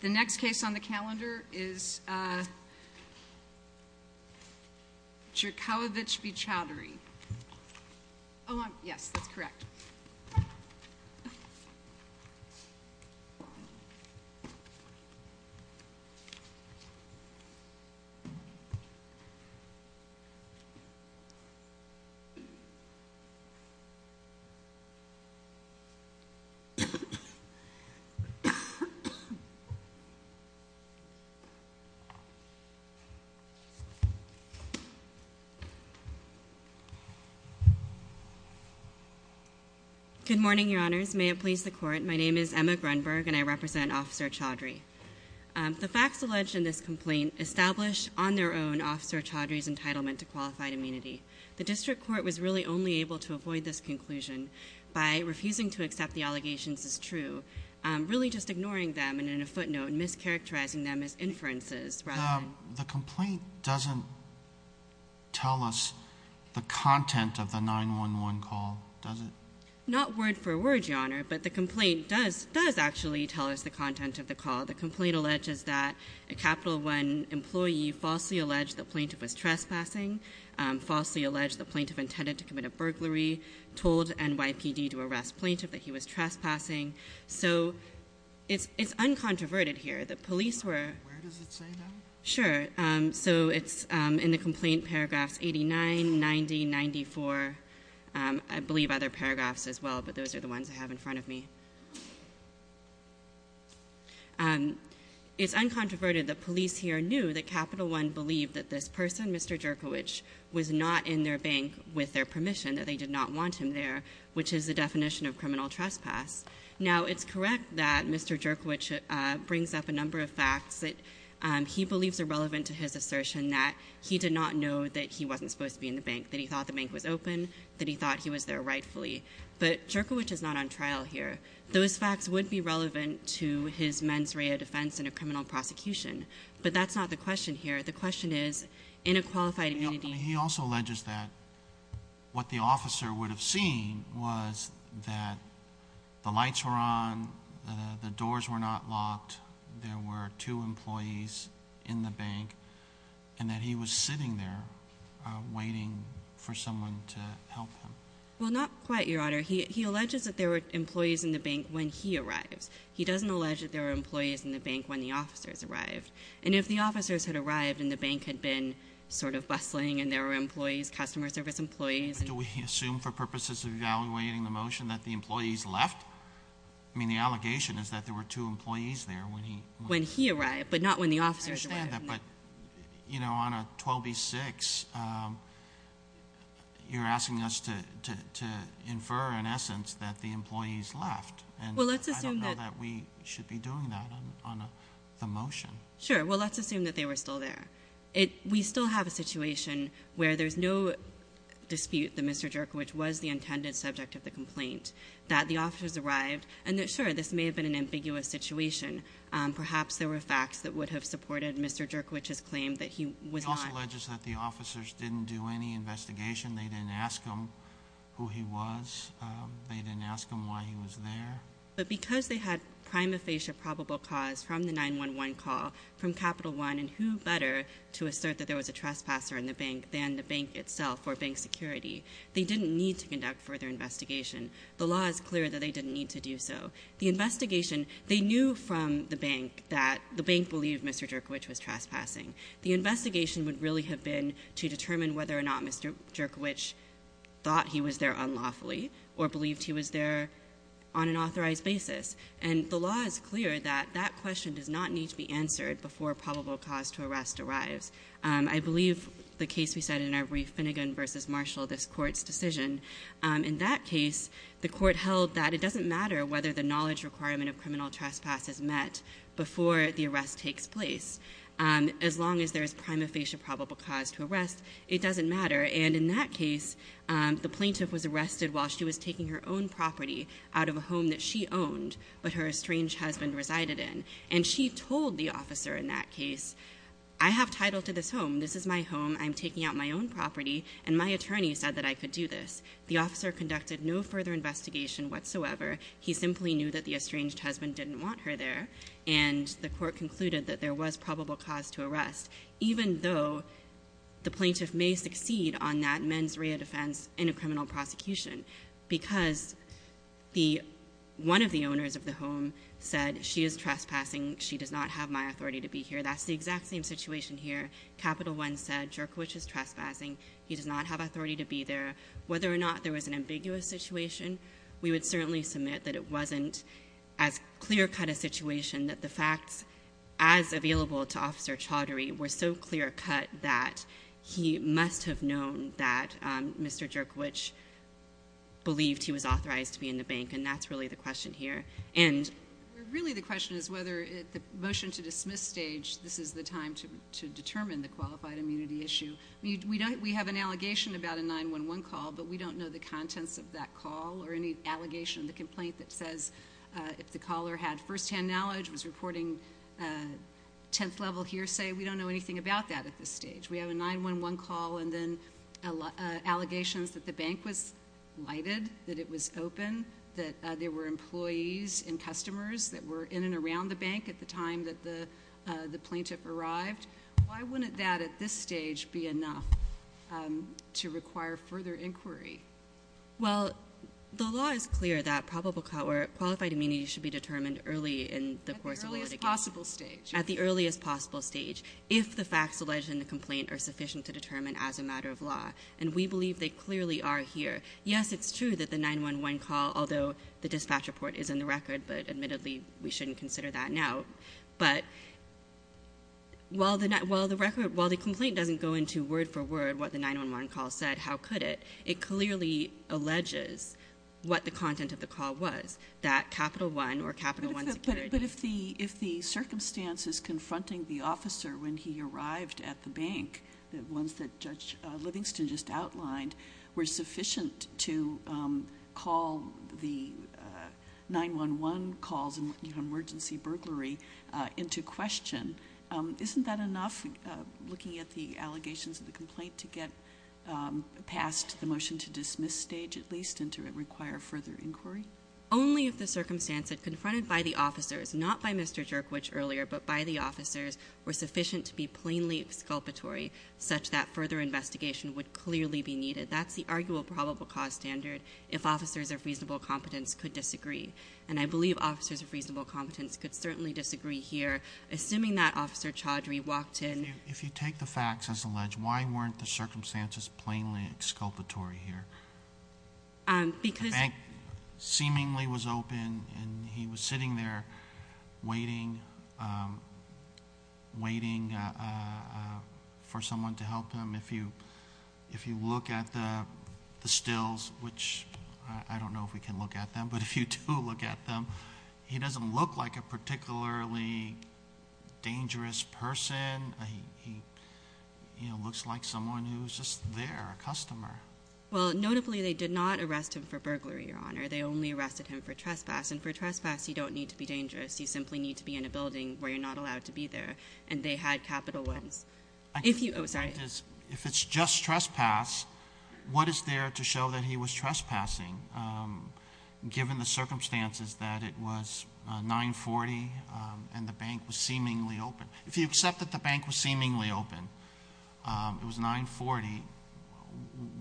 The next case on the calendar is Jerkowitsch v. Chowdhury. Oh, yes, that's correct. Good morning, Your Honors. May it please the Court, my name is Emma Grunberg and I represent Officer Chowdhury. The facts alleged in this complaint establish on their own Officer Chowdhury's entitlement to qualified immunity. The district court was really only able to avoid this conclusion by refusing to accept the allegations as true, really just ignoring them and, in a footnote, mischaracterizing them as inferences rather than... The complaint doesn't tell us the content of the 911 call, does it? Not word for word, Your Honor, but the complaint does actually tell us the content of the call. The complaint alleges that a Capital One employee falsely alleged the plaintiff was trespassing, falsely alleged the plaintiff intended to commit a burglary, told NYPD to arrest plaintiff that he was trespassing, so it's uncontroverted here. The police were... Where does it say that? Sure, so it's in the complaint paragraphs 89, 90, 94. I believe other paragraphs as well, but those are the ones I have in front of me. It's uncontroverted that police here knew that Capital One believed that this person, Mr. Jerkowitsch, was not in their bank with their permission, that they did not want him there, which is the definition of criminal trespass. Now, it's correct that Mr. Jerkowitsch brings up a number of facts that he believes are relevant to his assertion that he did not know that he wasn't supposed to be in the bank, that he thought the bank was open, that he thought he was there rightfully, but Jerkowitsch is not on trial here. Those facts would be relevant to his mens rea defense in a criminal prosecution, but that's not the question here. The question is, in a qualified immunity... that the lights were on, the doors were not locked, there were two employees in the bank, and that he was sitting there waiting for someone to help him. Well, not quite, Your Honor. He alleges that there were employees in the bank when he arrives. He doesn't allege that there were employees in the bank when the officers arrived, and if the officers had arrived and the bank had been sort of bustling and there were employees, customer service employees... Do we assume for purposes of evaluating the motion that the employees left? I mean, the allegation is that there were two employees there when he... When he arrived, but not when the officers arrived. But, you know, on 12B-6, you're asking us to infer, in essence, that the employees left. Well, let's assume that... And I don't know that we should be doing that on the motion. Sure. Well, let's assume that they were still there. We still have a situation where there's no dispute that Mr. Jerkiewicz was the intended subject of the complaint, that the officers arrived, and that, sure, this may have been an ambiguous situation. Perhaps there were facts that would have supported Mr. Jerkiewicz's claim that he was not... He also alleges that the officers didn't do any investigation. They didn't ask him who he was. They didn't ask him why he was there. But because they had prima facie a probable cause from the 911 call, from Capital One, and who better to assert that there was a trespasser in the bank than the bank itself or bank security, they didn't need to conduct further investigation. The law is clear that they didn't need to do so. The investigation, they knew from the bank that the bank believed Mr. Jerkiewicz was trespassing. The investigation would really have been to determine whether or not Mr. Jerkiewicz thought he was there unlawfully or believed he was there on an authorized basis. And the law is clear that that question does not need to be answered before a probable cause to arrest arrives. I believe the case we said in Ivory Finnegan v. Marshall, this Court's decision, in that case, the Court held that it doesn't matter whether the knowledge requirement of criminal trespass is met before the arrest takes place. As long as there is prima facie a probable cause to arrest, it doesn't matter. And in that case, the plaintiff was arrested while she was taking her own property out of a home that she owned but her estranged husband resided in. And she told the officer in that case, I have title to this home. This is my home. I'm taking out my own property. And my attorney said that I could do this. The officer conducted no further investigation whatsoever. He simply knew that the estranged husband didn't want her there. And the Court concluded that there was probable cause to arrest, even though the plaintiff may succeed on that mens rea defense in a criminal prosecution because one of the owners of the home said she is trespassing. She does not have my authority to be here. That's the exact same situation here. Capital One said Jerkowich is trespassing. He does not have authority to be there. Whether or not there was an ambiguous situation, we would certainly submit that it wasn't as clear-cut a situation, that the facts as available to Officer Chaudhary were so clear-cut that he must have known that Mr. Jerkowich believed he was authorized to be in the bank. And that's really the question here. Really the question is whether at the motion-to-dismiss stage, this is the time to determine the qualified immunity issue. We have an allegation about a 911 call, but we don't know the contents of that call or any allegation, the complaint that says if the caller had firsthand knowledge, was reporting 10th-level hearsay. We don't know anything about that at this stage. We have a 911 call and then allegations that the bank was lighted, that it was open, that there were employees and customers that were in and around the bank at the time that the plaintiff arrived. Why wouldn't that at this stage be enough to require further inquiry? Well, the law is clear that qualified immunity should be determined early in the course of litigation. At the earliest possible stage. At the earliest possible stage, if the facts alleged in the complaint are sufficient to determine as a matter of law. And we believe they clearly are here. Yes, it's true that the 911 call, although the dispatch report is in the record, but admittedly we shouldn't consider that now. But while the complaint doesn't go into word-for-word what the 911 call said, how could it? It clearly alleges what the content of the call was. That Capital One or Capital One security. But if the circumstances confronting the officer when he arrived at the bank, the ones that Judge Livingston just outlined, were sufficient to call the 911 calls and emergency burglary into question, isn't that enough, looking at the allegations of the complaint, to get past the motion to dismiss stage at least and to require further inquiry? Only if the circumstances confronted by the officers, not by Mr. Jerkwich earlier, but by the officers were sufficient to be plainly exculpatory, such that further investigation would clearly be needed. That's the arguable probable cause standard if officers of reasonable competence could disagree. And I believe officers of reasonable competence could certainly disagree here. Assuming that Officer Chaudhry walked in. If you take the facts as alleged, why weren't the circumstances plainly exculpatory here? Because- The bank seemingly was open and he was sitting there waiting for someone to help him. If you look at the stills, which I don't know if we can look at them, but if you do look at them, he doesn't look like a particularly dangerous person. He looks like someone who's just there, a customer. Well, notably they did not arrest him for burglary, Your Honor. They only arrested him for trespass, and for trespass you don't need to be dangerous. You simply need to be in a building where you're not allowed to be there, and they had capital ones. If you- oh, sorry. If it's just trespass, what is there to show that he was trespassing, given the circumstances that it was 940 and the bank was seemingly open? If you accept that the bank was seemingly open, it was 940,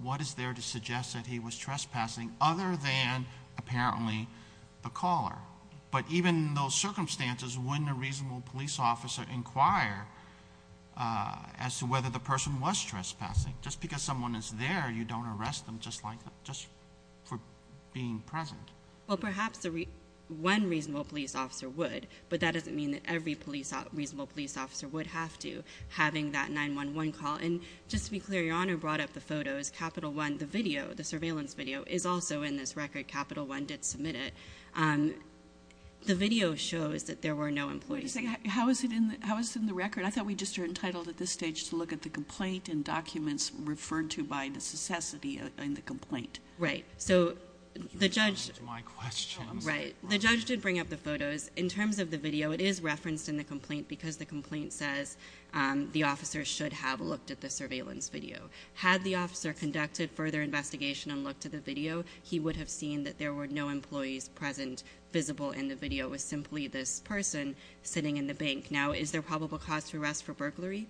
what is there to suggest that he was trespassing other than apparently the caller? But even in those circumstances, wouldn't a reasonable police officer inquire as to whether the person was trespassing? Just because someone is there, you don't arrest them just for being present. Well, perhaps one reasonable police officer would, but that doesn't mean that every reasonable police officer would have to, having that 911 call. And just to be clear, Your Honor brought up the photos. Capital one, the video, the surveillance video, is also in this record. Capital one did submit it. The video shows that there were no employees. How is it in the record? I thought we just are entitled at this stage to look at the complaint and documents referred to by necessity in the complaint. Right. So the judge- You answered my question. Right. The judge did bring up the photos. In terms of the video, it is referenced in the complaint because the complaint says the officer should have looked at the surveillance video. Had the officer conducted further investigation and looked at the video, he would have seen that there were no employees present visible in the video. It was simply this person sitting in the bank. Now, is there probable cause for arrest for burglary?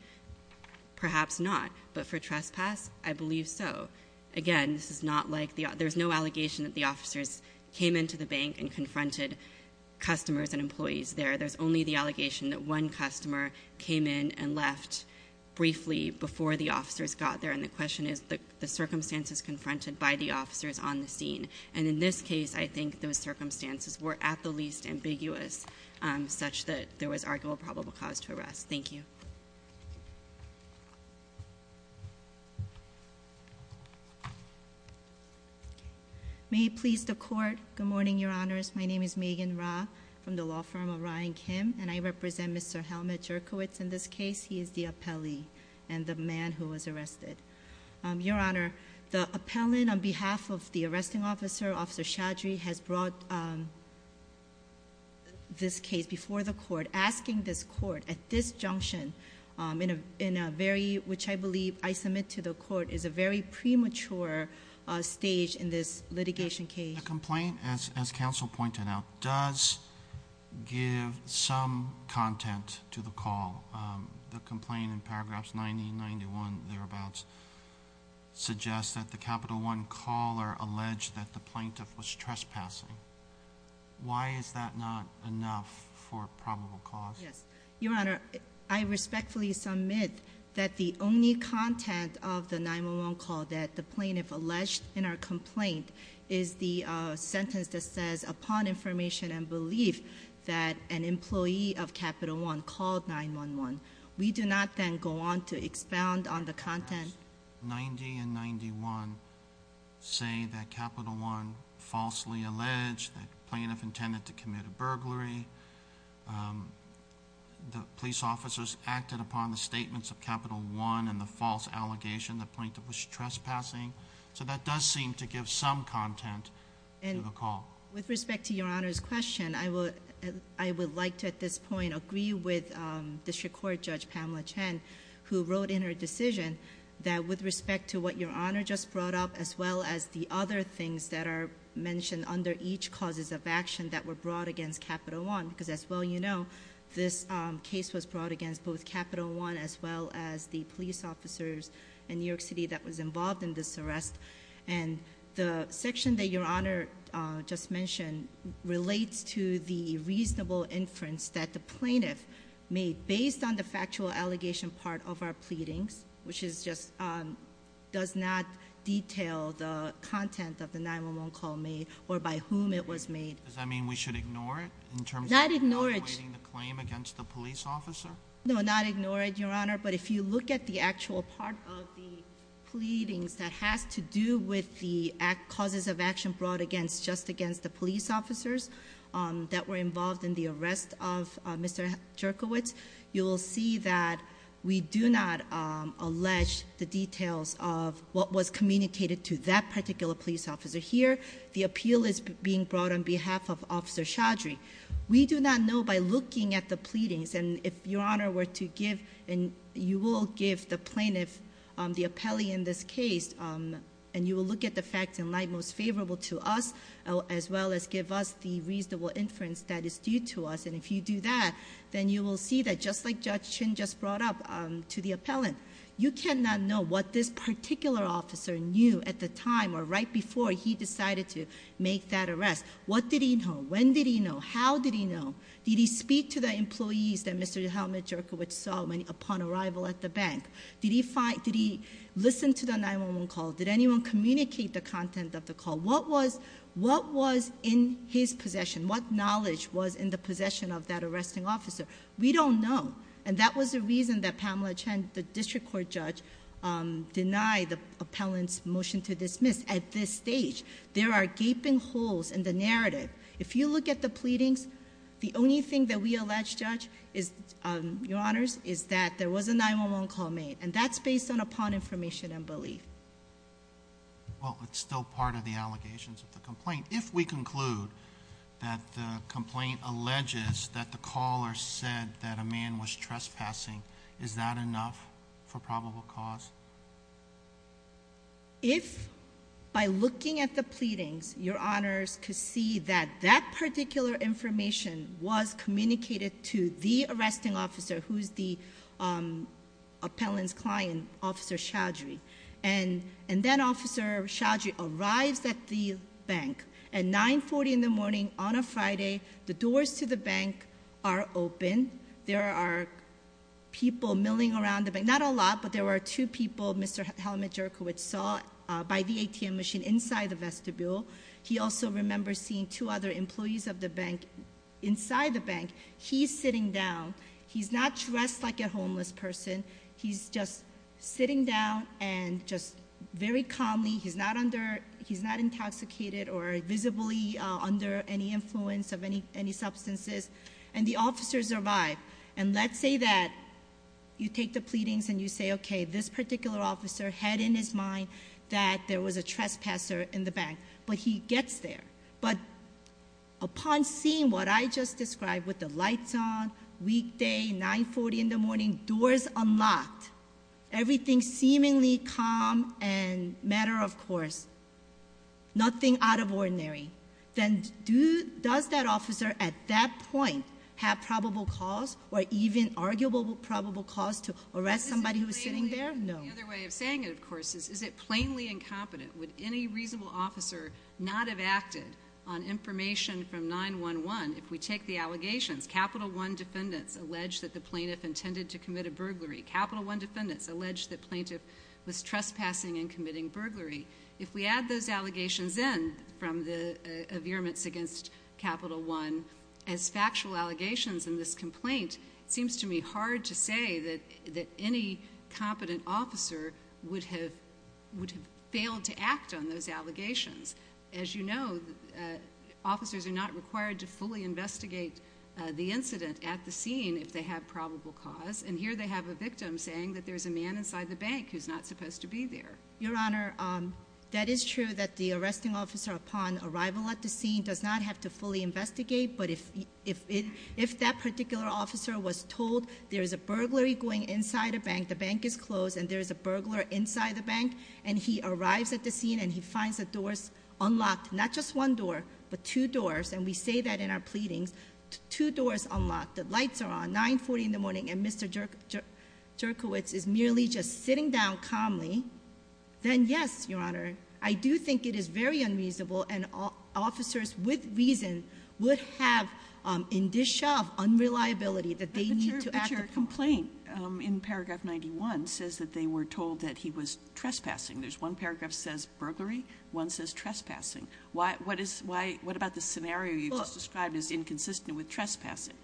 Perhaps not. But for trespass, I believe so. Again, this is not like the- There's no allegation that the officers came into the bank and confronted customers and employees there. There's only the allegation that one customer came in and left briefly before the officers got there. And the question is the circumstances confronted by the officers on the scene. And in this case, I think those circumstances were at the least ambiguous such that there was arguable probable cause to arrest. Thank you. May it please the court. Good morning, Your Honors. My name is Megan Ra from the law firm of Ryan Kim, and I represent Mr. Helmut Jerkowitz in this case. He is the appellee and the man who was arrested. Your Honor, the appellant on behalf of the arresting officer, Officer Shadry, has brought this case before the court, asking this court at this junction, which I believe I submit to the court, is a very premature stage in this litigation case. The complaint, as counsel pointed out, does give some content to the call. The complaint in paragraphs 90 and 91, thereabouts, suggests that the Capital One caller alleged that the plaintiff was trespassing. Why is that not enough for probable cause? Yes. Your Honor, I respectfully submit that the only content of the 9-1-1 call that the plaintiff alleged in our complaint is the sentence that says, upon information and belief, that an employee of Capital One called 9-1-1. We do not then go on to expound on the content. Paragraphs 90 and 91 say that Capital One falsely alleged that the plaintiff intended to commit a burglary. The police officers acted upon the statements of Capital One and the false allegation that the plaintiff was trespassing. So that does seem to give some content to the call. With respect to Your Honor's question, I would like to, at this point, agree with District Court Judge Pamela Chen, who wrote in her decision that, with respect to what Your Honor just brought up, as well as the other things that are mentioned under each causes of action that were brought against Capital One. Because, as well you know, this case was brought against both Capital One, as well as the police officers in New York City that was involved in this arrest. And the section that Your Honor just mentioned relates to the reasonable inference that the plaintiff made based on the factual allegation part of our pleadings. Which is just, does not detail the content of the 9-1-1 call made, or by whom it was made. Does that mean we should ignore it? Not ignore it. In terms of evaluating the claim against the police officer? No, not ignore it, Your Honor. But if you look at the actual part of the pleadings that has to do with the causes of action brought just against the police officers that were involved in the arrest of Mr. Jerkowitz. You will see that we do not allege the details of what was communicated to that particular police officer. Here, the appeal is being brought on behalf of Officer Chaudry. We do not know by looking at the pleadings, and if Your Honor were to give, and you will give the plaintiff, the appellee in this case, and you will look at the facts in light most favorable to us, as well as give us the reasonable inference that is due to us. And if you do that, then you will see that just like Judge Chin just brought up to the appellant, you cannot know what this particular officer knew at the time or right before he decided to make that arrest. What did he know? When did he know? How did he know? Did he speak to the employees that Mr. Helmut Jerkowitz saw upon arrival at the bank? Did he listen to the 911 call? Did anyone communicate the content of the call? What was in his possession? What knowledge was in the possession of that arresting officer? We don't know. And that was the reason that Pamela Chen, the district court judge, denied the appellant's motion to dismiss at this stage. There are gaping holes in the narrative. If you look at the pleadings, the only thing that we allege, Judge, is, Your Honors, is that there was a 911 call made, and that's based upon information and belief. Well, it's still part of the allegations of the complaint. If we conclude that the complaint alleges that the caller said that a man was trespassing, is that enough for probable cause? If, by looking at the pleadings, Your Honors could see that that particular information was communicated to the arresting officer, who's the appellant's client, Officer Chowdhury, and then Officer Chowdhury arrives at the bank at 940 in the morning on a Friday, the doors to the bank are open, there are people milling around the bank, not a lot, but there were two people, Mr. Halamajerkowicz, saw by the ATM machine inside the vestibule. He also remembers seeing two other employees of the bank inside the bank. He's sitting down. He's not dressed like a homeless person. He's just sitting down and just very calmly. He's not intoxicated or visibly under any influence of any substances. And the officers arrive. And let's say that you take the pleadings and you say, okay, this particular officer had in his mind that there was a trespasser in the bank, but he gets there. But upon seeing what I just described with the lights on, weekday, 940 in the morning, doors unlocked, everything seemingly calm and matter of course, nothing out of ordinary, then does that officer at that point have probable cause or even arguable probable cause to arrest somebody who is sitting there? No. The other way of saying it, of course, is it plainly incompetent? Would any reasonable officer not have acted on information from 911 if we take the allegations? Capital One defendants allege that the plaintiff intended to commit a burglary. Capital One defendants allege that plaintiff was trespassing and committing burglary. If we add those allegations in from the virements against Capital One as factual allegations in this complaint, it seems to me hard to say that any competent officer would have failed to act on those allegations. As you know, officers are not required to fully investigate the incident at the scene if they have probable cause. And here they have a victim saying that there's a man inside the bank who's not supposed to be there. Your Honor, that is true that the arresting officer upon arrival at the scene does not have to fully investigate. But if that particular officer was told there's a burglary going inside a bank, the bank is closed and there's a burglar inside the bank. And he arrives at the scene and he finds the doors unlocked, not just one door, but two doors. And we say that in our pleadings, two doors unlocked, the lights are on, 9.40 in the morning. And Mr. Jerkowitz is merely just sitting down calmly, then yes, Your Honor. I do think it is very unreasonable, and officers with reason would have in this shelf unreliability that they need to act upon. Sotomayor, but your complaint in paragraph 91 says that they were told that he was trespassing. There's one paragraph that says burglary, one says trespassing. What is why – what about the scenario you just described as inconsistent with trespassing?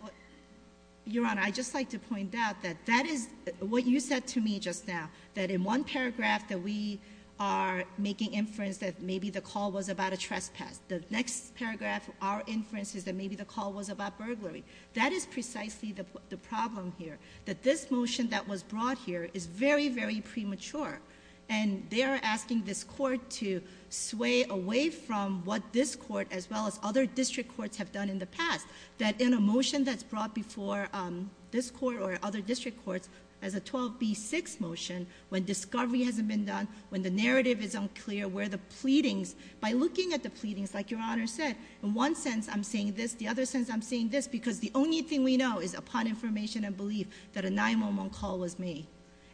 Your Honor, I'd just like to point out that that is what you said to me just now, that in one paragraph that we are making inference that maybe the call was about a trespass. The next paragraph our inference is that maybe the call was about burglary. That is precisely the problem here, that this motion that was brought here is very, very premature. And they are asking this court to sway away from what this court as well as other district courts have done in the past, that in a motion that's brought before this court or other district courts as a 12B6 motion, when discovery hasn't been done, when the narrative is unclear, where the pleadings – by looking at the pleadings, like Your Honor said, in one sense I'm saying this, the other sense I'm saying this, because the only thing we know is upon information and belief that a 911 call was made.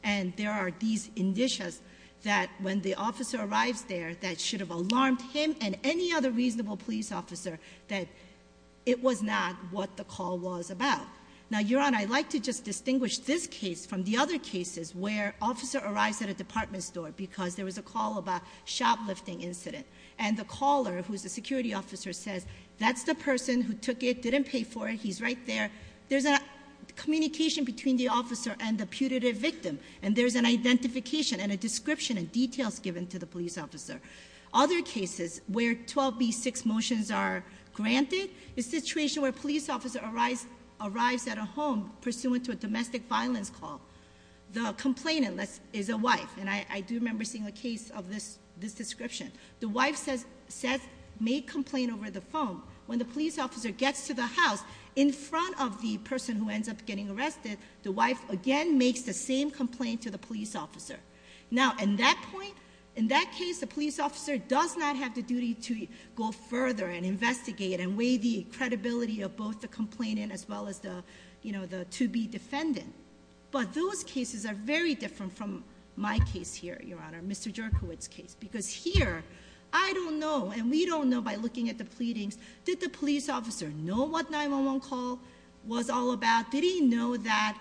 And there are these indicias that when the officer arrives there that should have alarmed him and any other reasonable police officer that it was not what the call was about. Now, Your Honor, I'd like to just distinguish this case from the other cases where an officer arrives at a department store because there was a call about a shoplifting incident. And the caller, who is the security officer, says that's the person who took it, didn't pay for it, he's right there. There's a communication between the officer and the putative victim, and there's an identification and a description and details given to the police officer. Other cases where 12B6 motions are granted is a situation where a police officer arrives at a home pursuant to a domestic violence call. The complainant is a wife, and I do remember seeing a case of this description. The wife may complain over the phone. When the police officer gets to the house, in front of the person who ends up getting arrested, the wife again makes the same complaint to the police officer. Now, in that case, the police officer does not have the duty to go further and investigate and weigh the credibility of both the complainant as well as the 2B defendant. But those cases are very different from my case here, Your Honor, Mr. Jerkowitz's case. Because here, I don't know, and we don't know by looking at the pleadings, did the police officer know what 911 call was all about? Did he know that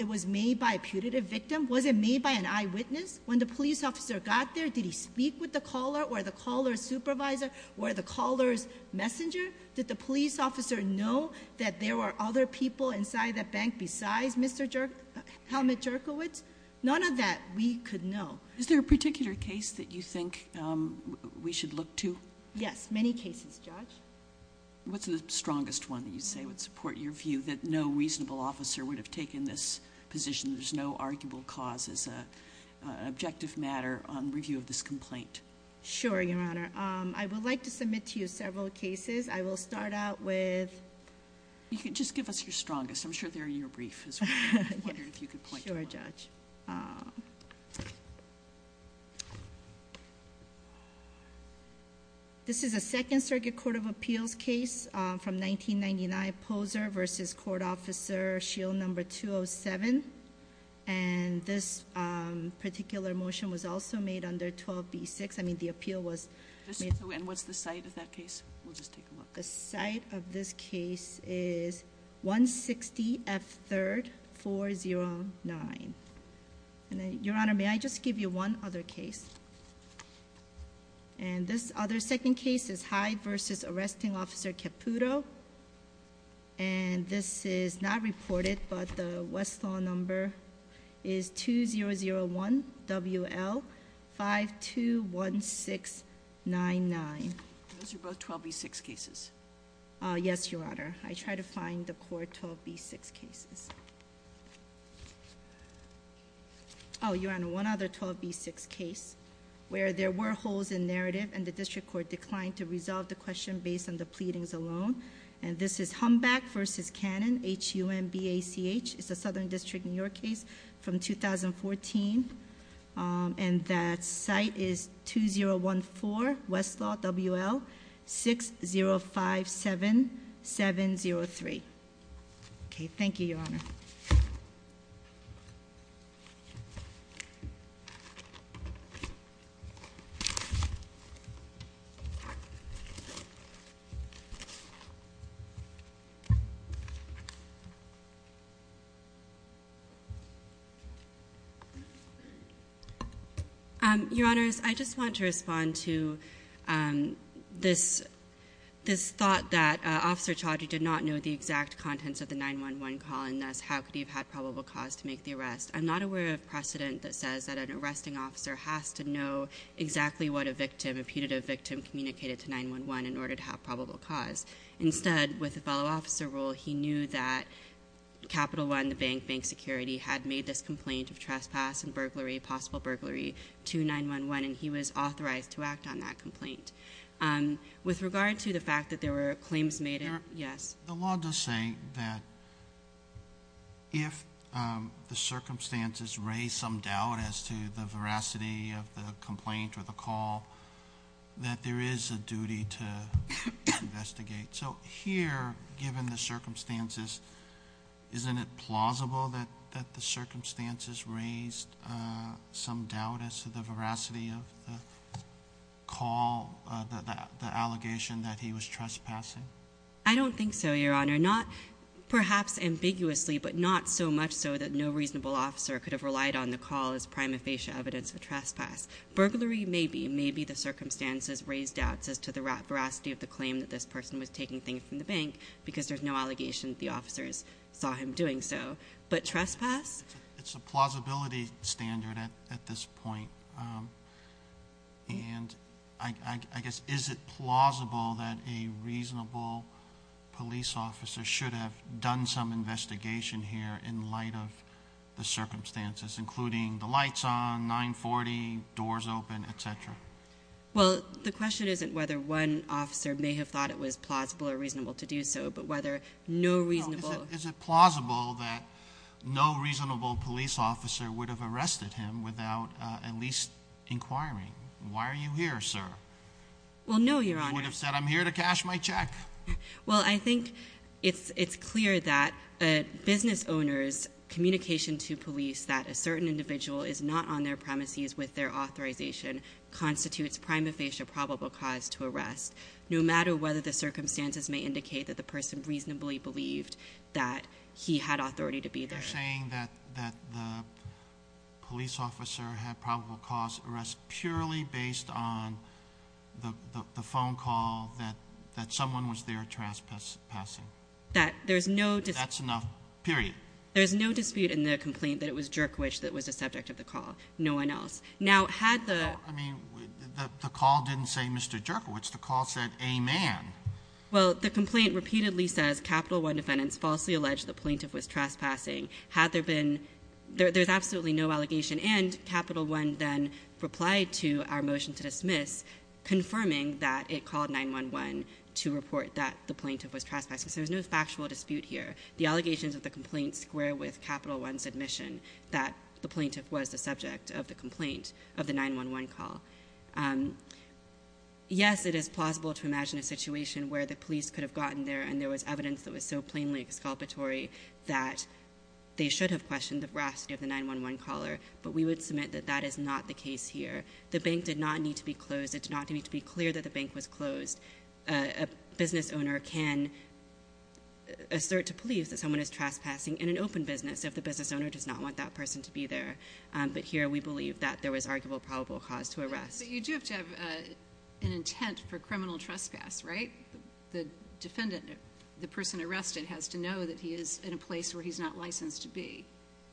it was made by a putative victim? Was it made by an eyewitness? When the police officer got there, did he speak with the caller or the caller's supervisor or the caller's messenger? Did the police officer know that there were other people inside that bank besides Mr. Helmut Jerkowitz? None of that we could know. Is there a particular case that you think we should look to? Yes, many cases, Judge. What's the strongest one that you say would support your view that no reasonable officer would have taken this position, there's no arguable cause, as an objective matter on review of this complaint? Sure, Your Honor. I would like to submit to you several cases. I will start out with... Just give us your strongest. I'm sure they're in your brief as well. I wondered if you could point to one. Sure, Judge. This is a Second Circuit Court of Appeals case from 1999, Poser v. Court Officer Shield No. 207. And this particular motion was also made under 12b-6. I mean, the appeal was made... And what's the site of that case? We'll just take a look. The site of this case is 160 F 3rd 409. Your Honor, may I just give you one other case? And this other second case is Hyde v. Arresting Officer Caputo. And this is not reported, but the Westlaw number is 2001 WL 521699. Those are both 12b-6 cases. Yes, Your Honor. I tried to find the court 12b-6 cases. Oh, Your Honor, one other 12b-6 case where there were holes in narrative and the district court declined to resolve the question based on the pleadings alone. And this is Humback v. Cannon, H-U-M-B-A-C-H. It's a Southern District, New York case from 2014. And that site is 2014 Westlaw WL 6057703. Okay, thank you, Your Honor. Your Honors, I just want to respond to this thought that Officer Chaudry did not know the exact contents of the 911 call, and thus how could he have had probable cause to make the arrest. I'm not aware of precedent that says that an arresting officer has to know exactly what a victim, a putative victim, communicated to 911 in order to have probable cause. Instead, with a fellow officer role, he knew that Capital One, the bank, had made this complaint of trespass and possible burglary to 911, and he was authorized to act on that complaint. With regard to the fact that there were claims made, yes. The law does say that if the circumstances raise some doubt as to the veracity of the complaint or the call, that there is a duty to investigate. So here, given the circumstances, isn't it plausible that the circumstances raised some doubt as to the veracity of the call, the allegation that he was trespassing? I don't think so, Your Honor. Not perhaps ambiguously, but not so much so that no reasonable officer could have relied on the call as prima facie evidence of trespass. Burglary, maybe. Maybe the circumstances raised doubts as to the veracity of the claim that this person was taking things from the bank because there's no allegation that the officers saw him doing so. But trespass? It's a plausibility standard at this point, and I guess is it plausible that a reasonable police officer should have done some investigation here in light of the circumstances, including the lights on, 940, doors open, et cetera? Well, the question isn't whether one officer may have thought it was plausible or reasonable to do so, but whether no reasonable Is it plausible that no reasonable police officer would have arrested him without at least inquiring? Why are you here, sir? Well, no, Your Honor. You would have said, I'm here to cash my check. Well, I think it's clear that a business owner's communication to police that a certain individual is not on their premises with their authorization constitutes prima facie a probable cause to arrest, no matter whether the circumstances may indicate that the person reasonably believed that he had authority to be there. You're saying that the police officer had probable cause to arrest purely based on the phone call that someone was there trespassing. That there's no dispute. That's enough, period. There's no dispute in the complaint that it was Jerkowich that was the subject of the call. No one else. Now, had the I mean, the call didn't say Mr. Jerkowich. The call said a man. Well, the complaint repeatedly says Capital One defendants falsely alleged the plaintiff was trespassing. Had there been There's absolutely no allegation, and Capital One then replied to our motion to dismiss, confirming that it called 911 to report that the plaintiff was trespassing. So there's no factual dispute here. The allegations of the complaint square with Capital One's admission that the plaintiff was the subject of the complaint, of the 911 call. Yes, it is plausible to imagine a situation where the police could have gotten there and there was evidence that was so plainly exculpatory that they should have questioned the veracity of the 911 caller, but we would submit that that is not the case here. The bank did not need to be closed. It did not need to be clear that the bank was closed. A business owner can assert to police that someone is trespassing in an open business if the business owner does not want that person to be there. But here we believe that there was arguable probable cause to arrest. But you do have to have an intent for criminal trespass, right? The defendant, the person arrested, has to know that he is in a place where he's not licensed to be.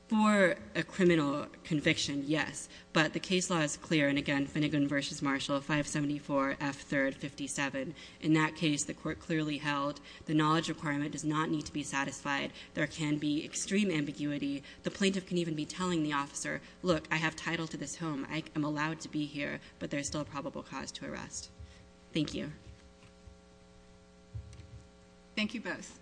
For a criminal conviction, yes. But the case law is clear, and again, Finnegan v. Marshall, 574 F. 3rd, 57. In that case, the court clearly held the knowledge requirement does not need to be satisfied. There can be extreme ambiguity. The plaintiff can even be telling the officer, look, I have title to this home, I am allowed to be here, but there is still a probable cause to arrest. Thank you. Thank you both.